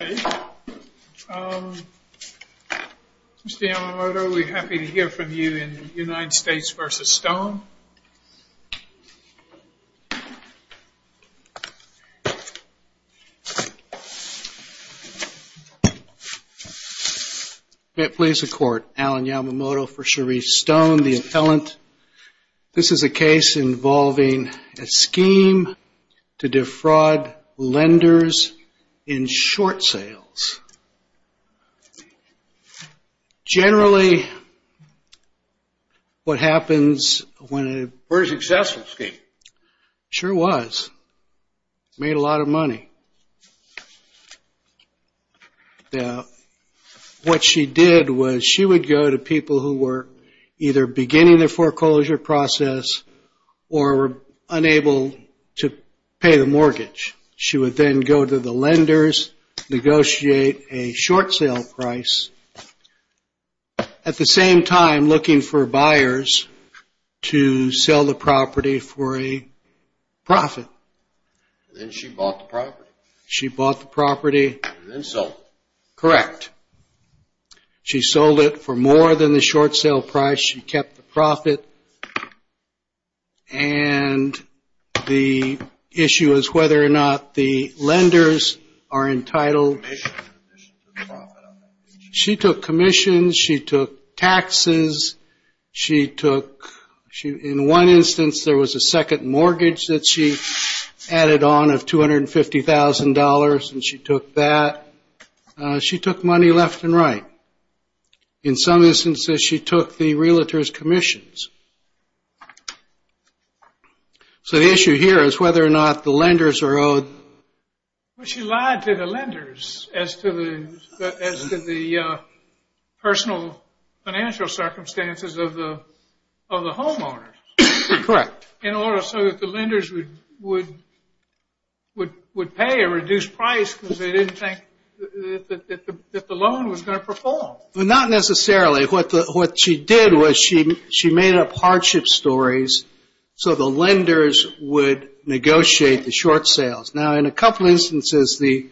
Mr. Yamamoto, we're happy to hear from you in United States v. Stone. May it please the court, Alan Yamamoto for Charise Stone, the appellant. This is a case in the United States v. Stone, where a successful scheme was made a lot of money. What she did was she would go to people who were either beginning their foreclosure process or unable to pay the mortgage. She would then go to the lenders, negotiate a short sale price. At the same time, looking for buyers to sell the property for a profit. She bought the property. Correct. She sold it for more than the short sale price. She kept the profit. And the issue is whether or not the lenders are entitled. She took commissions. She took taxes. She took, in one instance, there was a second mortgage that she added on of $250,000, and she took that. She took money left and right. In some instances, she took the realtor's commissions. So the issue here is whether or not the lenders are owed. Well, she lied to the lenders as to the personal financial circumstances of the homeowners. Correct. In order so that the lenders would pay a reduced price because they didn't think that the loan was going to perform. Not necessarily. What she did was she made up hardship stories so the lenders would negotiate the short sales. Now, in a couple of instances, the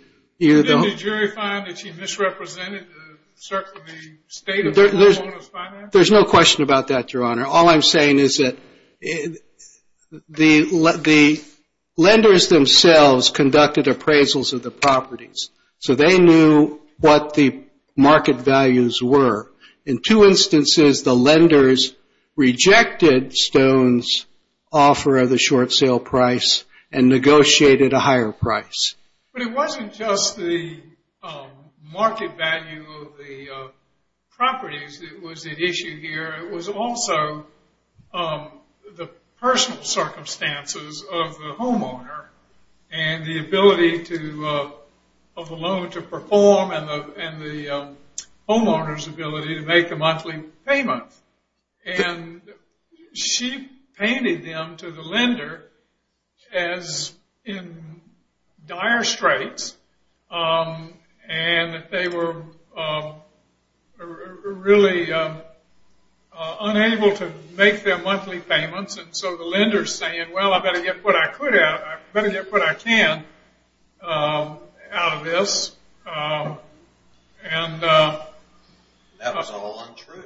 lenders themselves conducted appraisals of the properties. So they knew what the market values were. In two instances, the lenders rejected Stone's offer of the short sale price and negotiated a higher price. But it wasn't just the market value of the properties that was at issue here. It was also the personal circumstances of the loan to perform and the homeowner's ability to make a monthly payment. And she painted them to the lender as in dire straits. And they were really unable to make their monthly payments. So the lenders saying, well, I better get what I can out of this. That was all untrue.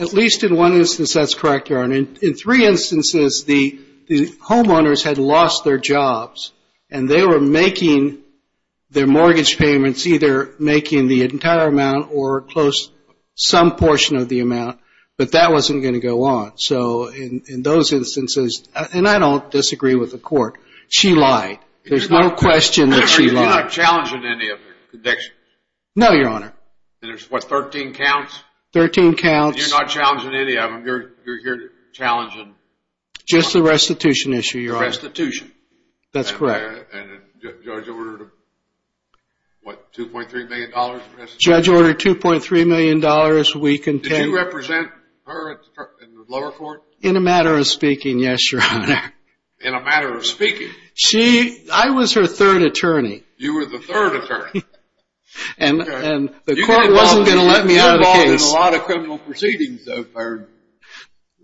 At least in one instance, that's correct. In three instances, the homeowners had lost their jobs and they were making their mortgage payments either making the entire amount or some portion of the amount. But that wasn't going to go on. So in those instances, and I don't disagree with the court, she lied. There's no question that she lied. You're not challenging any of her convictions? No, Your Honor. And there's what, 13 counts? 13 counts. You're not challenging any of them? You're here challenging... Just the restitution issue, Your Honor. The restitution. That's correct. And the judge ordered a, what, $2.3 million restitution? Judge ordered $2.3 million. Did you represent her? In the lower court? In a matter of speaking, yes, Your Honor. In a matter of speaking? I was her third attorney. You were the third attorney? And the court wasn't going to let me out of the case. You've been involved in a lot of criminal proceedings, though,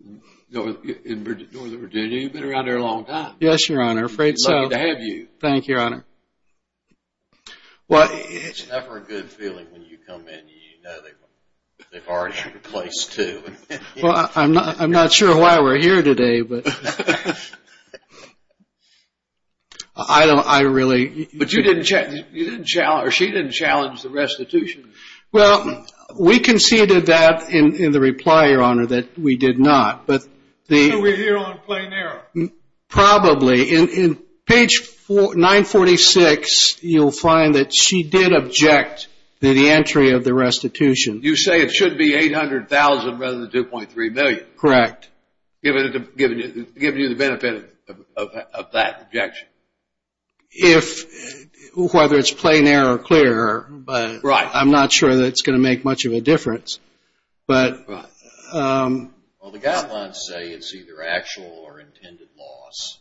in Northern Virginia. You've been around there a long time. Yes, Your Honor. I'm afraid so. Lucky to have you. Thank you, Your Honor. It's never a good feeling when you come in and you know they've already replaced two. Well, I'm not sure why we're here today, but... I don't, I really... But you didn't challenge, or she didn't challenge the restitution. Well, we conceded that in the reply, Your Honor, that we did not, but the... So we're here on plain error. Probably. In page 946, you'll find that she did object to the entry of the restitution. You say it should be $800,000 rather than $2.3 million. Correct. Given you the benefit of that objection. If, whether it's plain error or clear, I'm not sure that it's going to make much of a difference, but... Well, the guidelines say it's either actual or intended loss.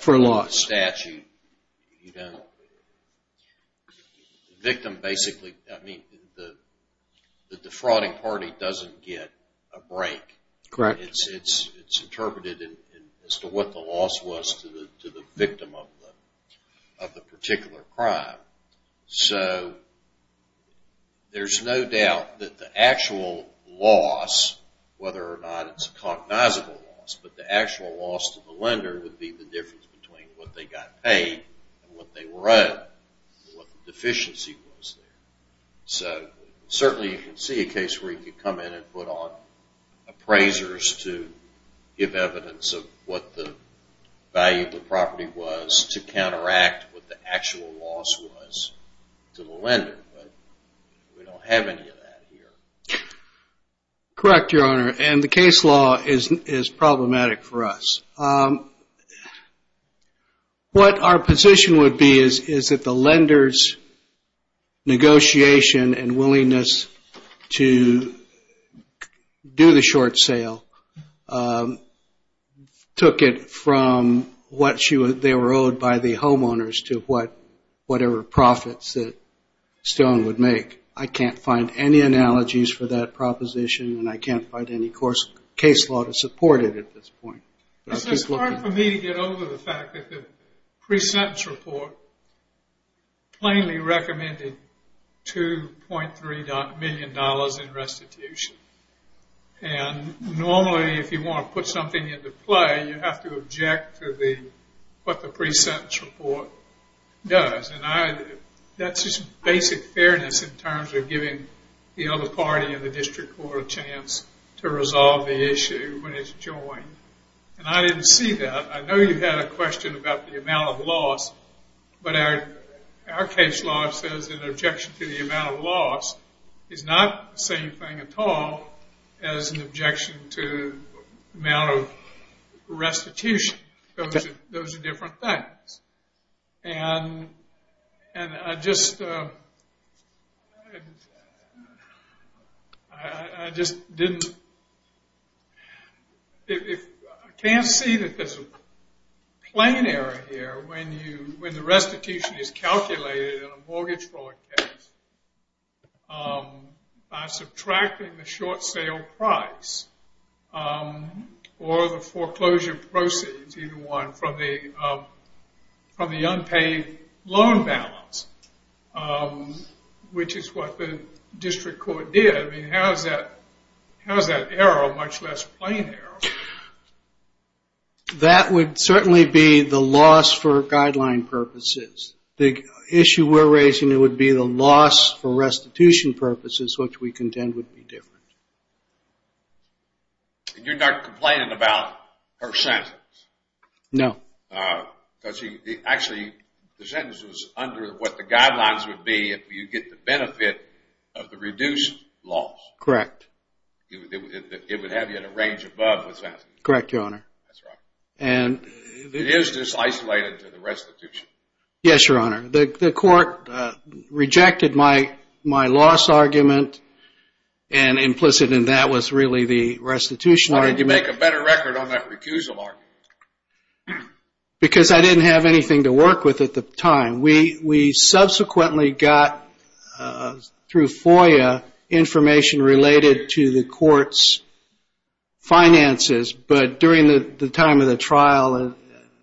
For a loss. In the statute, you don't... The victim basically, I mean, the defrauding party doesn't get a break. Correct. It's interpreted as to what the loss was to the victim of the particular crime. So there's no doubt that the actual loss, whether or not it's a cognizable loss, but the actual loss to the lender would be the difference between what they got paid and what they were owed, what the deficiency was there. So certainly you can see a case where you could come in and put on appraisers to give evidence of what the value of the property was to counteract what the actual loss was to the lender. We don't have any of that here. Correct, Your Honor. And the case law is problematic for us. What our position would be is that the lender's negotiation and willingness to do the short sale took it from what they were owed by the homeowners to whatever profits that Stone would make. I can't find any analogies for that proposition and I can't find any case law to support it at this point. It's hard for me to get over the fact that the pre-sentence report plainly recommended $2.3 million in restitution. Normally, if you want to put something into play, you have to object to what the pre-sentence report does. That's just basic fairness in terms of giving the other party and the district court a chance to resolve the issue when it's joined. I didn't see that. I know you had a question about the amount of loss, is not the same thing at all as an objection to the amount of restitution. Those are different things. I can't see that there's a plain error here when the restitution is calculated in a mortgage fraud case by subtracting the short sale price or the foreclosure proceeds, either one, from the unpaid loan balance, which is what the district court did. How is that error much less plain error? That would certainly be the loss for guideline purposes. The issue we're raising would be the loss for restitution purposes, which we contend would be different. You're not complaining about her sentence? No. Actually, the sentence was under what the guidelines would be if you get the benefit of the reduced loss. Correct. It would have you in a range above the sentence. Correct, Your Honor. It is just isolated to the restitution. Yes, Your Honor. The court rejected my loss argument and implicit in that was really the restitution argument. Why didn't you make a better record on that recusal argument? Because I didn't have anything to work with at the time. We subsequently got, through FOIA, information related to the court's finances, but during the time of the trial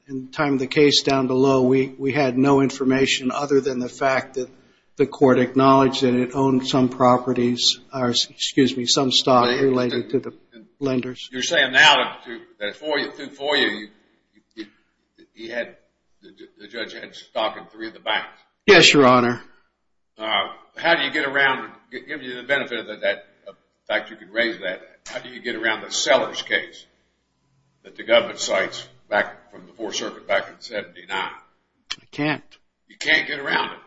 and time of the case down below, we had no information other than the fact that the court acknowledged that it owned some properties, excuse me, some stock related to the lenders. You're saying now that through FOIA, the judge had stock in three of the banks? Yes, Your Honor. How do you get around, given you the benefit of that fact how do you get around the Sellers case that the government cites from the 4th Circuit back in 1979? I can't. You can't get around it.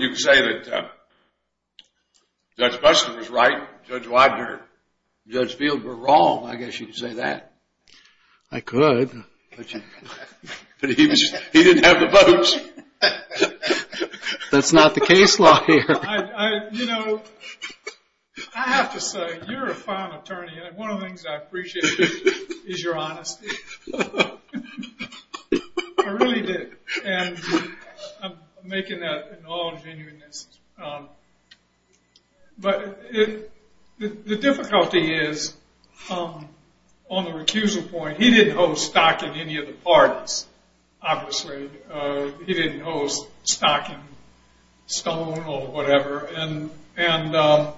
You can say that Judge Buster was right, Judge Widener and Judge Field were wrong. I guess you could say that. I could. But he didn't have the votes. That's not the case law here. You know, I have to say, you're a fine attorney, and one of the things I appreciate is your honesty. I really did. I'm making that in all genuineness. But the difficulty is, on the recusal point, he didn't hold stock in any of the parties, obviously. He didn't hold stock in Stone or whatever. And the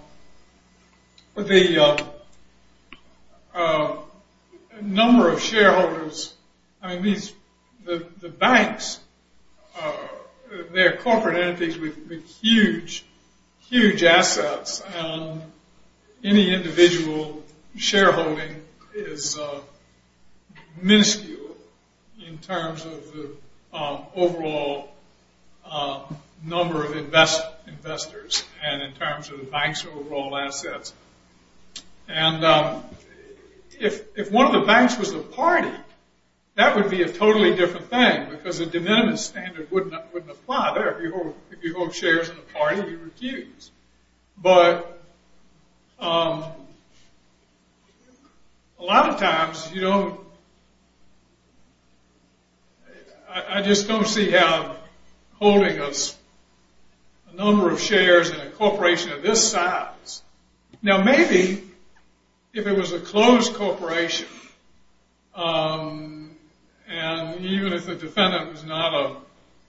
number of shareholders, I mean, the banks, they're corporate entities with huge, huge assets, and any individual shareholding is minuscule in terms of the overall number of investors and in terms of the bank's overall assets. And if one of the banks was a party, that would be a totally different thing, because the de minimis standard wouldn't apply there. If you hold shares in a party, you're accused. But a lot of times, you don't... I just don't see how holding a number of shares in a corporation of this size... Now, maybe if it was a closed corporation, and even if the defendant was not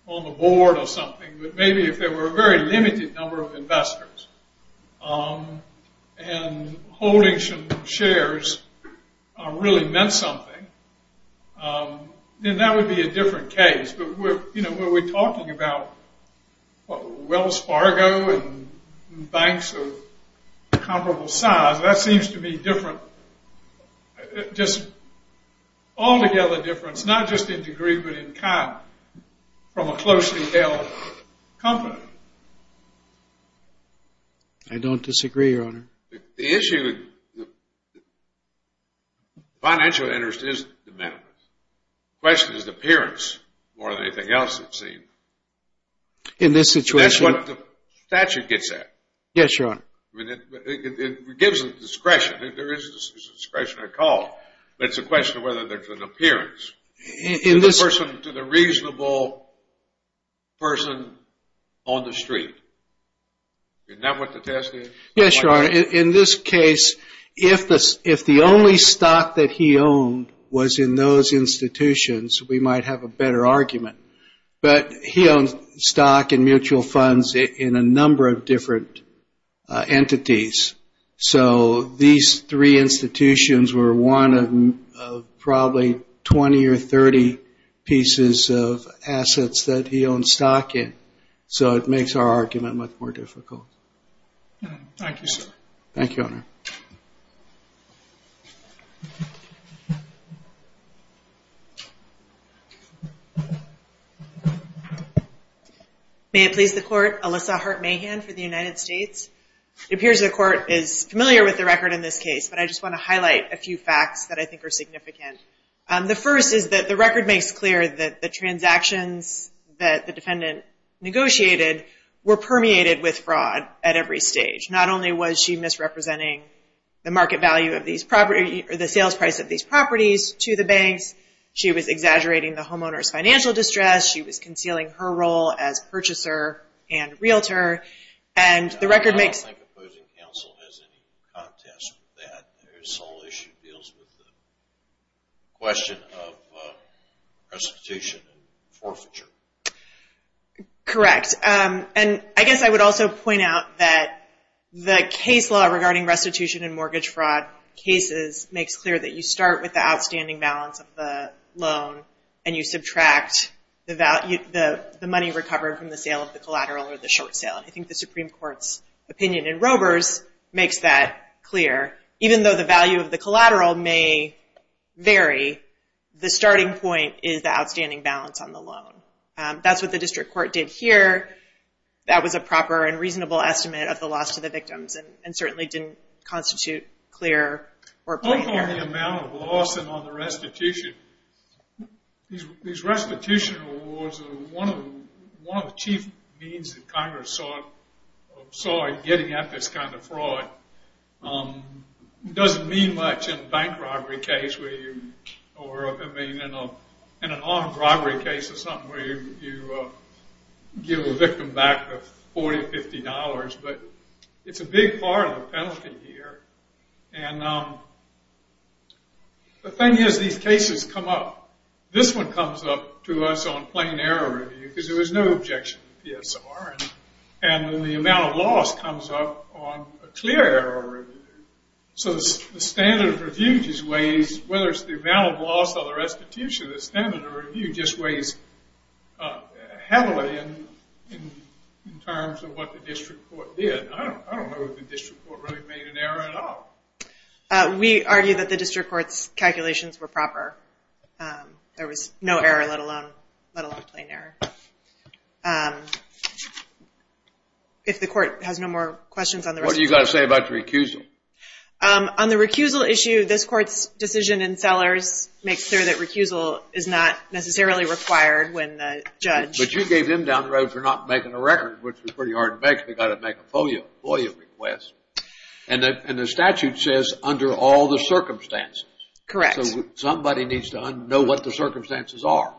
on the board or something, but maybe if there were a very limited number of investors, and holding some shares really meant something, then that would be a different case. But when we're talking about Wells Fargo and banks of comparable size, that seems to me different, just altogether different, not just in degree, but in kind, from a closely held company. I don't disagree, Your Honor. The issue... The financial interest is de minimis. The question is appearance more than anything else, it seems. In this situation... That's what the statute gets at. Yes, Your Honor. It gives a discretion. There is a discretionary call, but it's a question of whether there's an appearance. To the person... To the reasonable person on the street. Isn't that what the test is? Yes, Your Honor. In this case, if the only stock that he owned was in those institutions, we might have a better argument. But he owned stock and mutual funds in a number of different entities. So, these three institutions were one of probably 20 or 30 pieces of assets that he owned stock in. So, it makes our argument much more difficult. Thank you, sir. Thank you, Your Honor. May it please the Court, Alyssa Hart-Mahan for the United States. It appears the Court is familiar with the record in this case, but I just want to highlight a few facts that I think are significant. The first is that the record makes clear that the transactions that the defendant negotiated were permeated with fraud at every stage. Not only was she misrepresenting the market value of these properties, or the sales price of these properties, to the banks, she was exaggerating the homeowner's financial distress, she was concealing her role as purchaser and realtor, and the record makes... I don't think opposing counsel has any contest with that. This whole issue deals with the question of restitution and forfeiture. Correct. And I guess I would also point out that the case law regarding restitution and mortgage fraud cases makes clear that you start with the outstanding balance of the loan, and you subtract the money recovered from the sale of the collateral or the short sale. I think the Supreme Court's opinion in Robers makes that clear. Even though the value of the collateral may vary, the starting point is the outstanding balance on the loan. That's what the district court did here. That was a proper and reasonable estimate of the loss to the victims, and certainly didn't constitute clear or plain error. What about the amount of loss and on the restitution? These restitution awards are one of the chief means that Congress saw in getting at this kind of fraud. It doesn't mean much in a bank robbery case, or in an armed robbery case or something, where you give a victim back $40 or $50, but it's a big part of the penalty here. And the thing is, these cases come up. This one comes up to us on plain error review because there was no objection to PSR. And then the amount of loss comes up on a clear error review. So the standard of review just weighs, whether it's the amount of loss or the restitution, the standard of review just weighs heavily in terms of what the district court did. I don't know if the district court really made an error at all. We argue that the district court's calculations were proper. There was no error, let alone plain error. If the court has no more questions on the restitution. What do you got to say about the recusal? On the recusal issue, this court's decision in Sellers makes clear that recusal is not necessarily required when the judge... But you gave them down the road for not making a record, which was pretty hard to make. They got to make a FOIA request. And the statute says, under all the circumstances. Correct. Somebody needs to know what the circumstances are.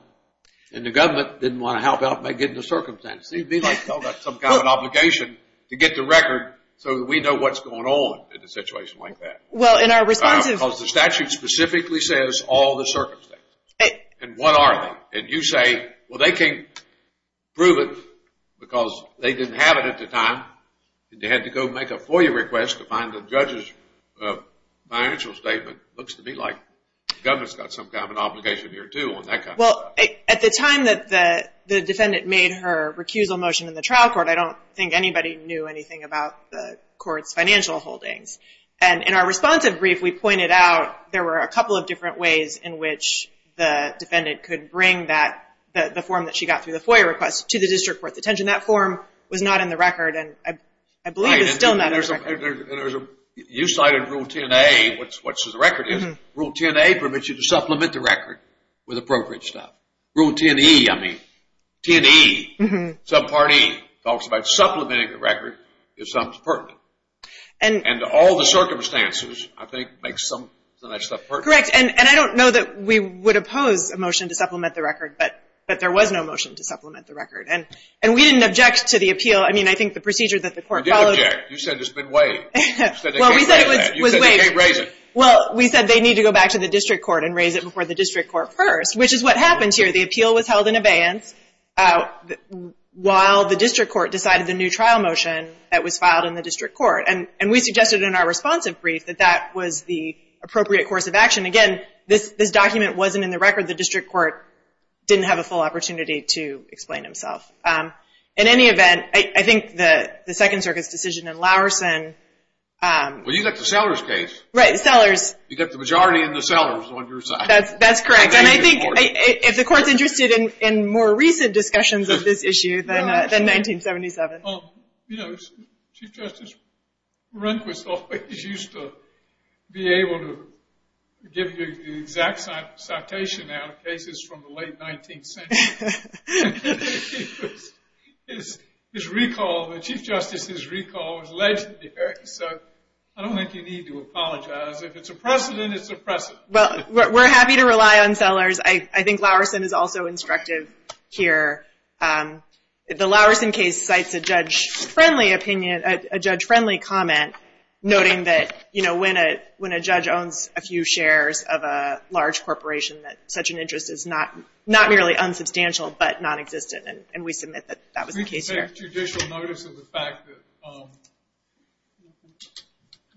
And the government didn't want to help out by getting the circumstances. They felt like they had some kind of obligation to get the record so that we know what's going on in a situation like that. Well, in our response... Because the statute specifically says all the circumstances. And what are they? And you say, well they can't prove it because they didn't have it at the time. They had to go make a FOIA request to find the judge's financial statement. got some kind of obligation here too. Well, at the time that the defendant made her recusal motion in the trial court, I don't think anybody knew anything about the court's financial holdings. And in our responsive brief, we pointed out there were a couple of different ways in which the defendant could bring the form that she got through the FOIA request to the district court detention. That form was not in the record. And I believe it's still not in the record. You cited Rule 10A, which is what the record is. Rule 10A permits you to supplement the record with appropriate stuff. Rule 10E, I mean. 10E, subpart E, talks about supplementing the record if something's pertinent. And all the circumstances, I think, make some of that stuff pertinent. Correct. And I don't know that we would oppose a motion to supplement the record, but there was no motion to supplement the record. And we didn't object to the appeal. I mean, I think the procedure that the court followed... You did object. You said it's been waived. Well, we said it was waived. You said they can't raise it. Well, we said they need to go back to the district court and raise it before the district court first, which is what happened here. The appeal was held in abeyance while the district court decided the new trial motion that was filed in the district court. And we suggested in our responsive brief that that was the appropriate course of action. Again, this document wasn't in the record. The district court didn't have a full opportunity to explain himself. In any event, I think the Second Circuit's decision in Lowerson... Well, you got the Sellers case. Right, Sellers. You got the majority in the Sellers on your side. That's correct. And I think if the court's interested in more recent discussions of this issue than 1977... You know, Chief Justice Rehnquist always used to be able to give you the exact citation out of cases from the late 19th century. His recall, the Chief Justice's recall was legendary. So I don't think you need to apologize. If it's a precedent, it's a precedent. Well, we're happy to rely on Sellers. I think Lowerson is also instructive here. The Lowerson case cites a judge-friendly opinion, a judge-friendly comment, noting that when a judge owns a few shares of a large corporation, that such an interest is not merely unsubstantial, but nonexistent. And we submit that that was the case there. Did you make judicial notice of the fact that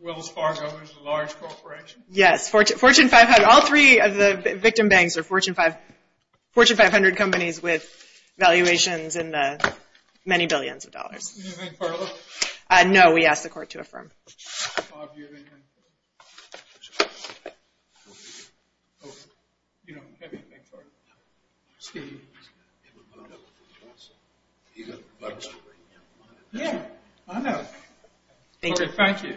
Wells Fargo is a large corporation? Yes, Fortune 500. All three of the victim banks are Fortune 500 companies with valuations in the many billions of dollars. Do you have anything further? No, we asked the court to affirm. Bob, do you have anything further? Thank you.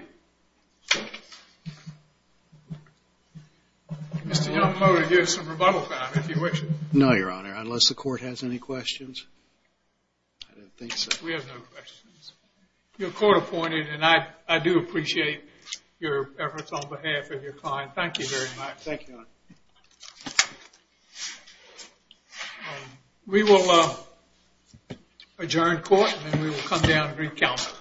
Mr. Young, I'm going to give you some rebuttal time, if you wish. No, Your Honor, unless the court has any questions. I don't think so. We have no questions. You're court-appointed, and I do appreciate your efforts on behalf of your client. Thank you very much. Thank you, Your Honor. We will adjourn court, and then we will come down and reconvene.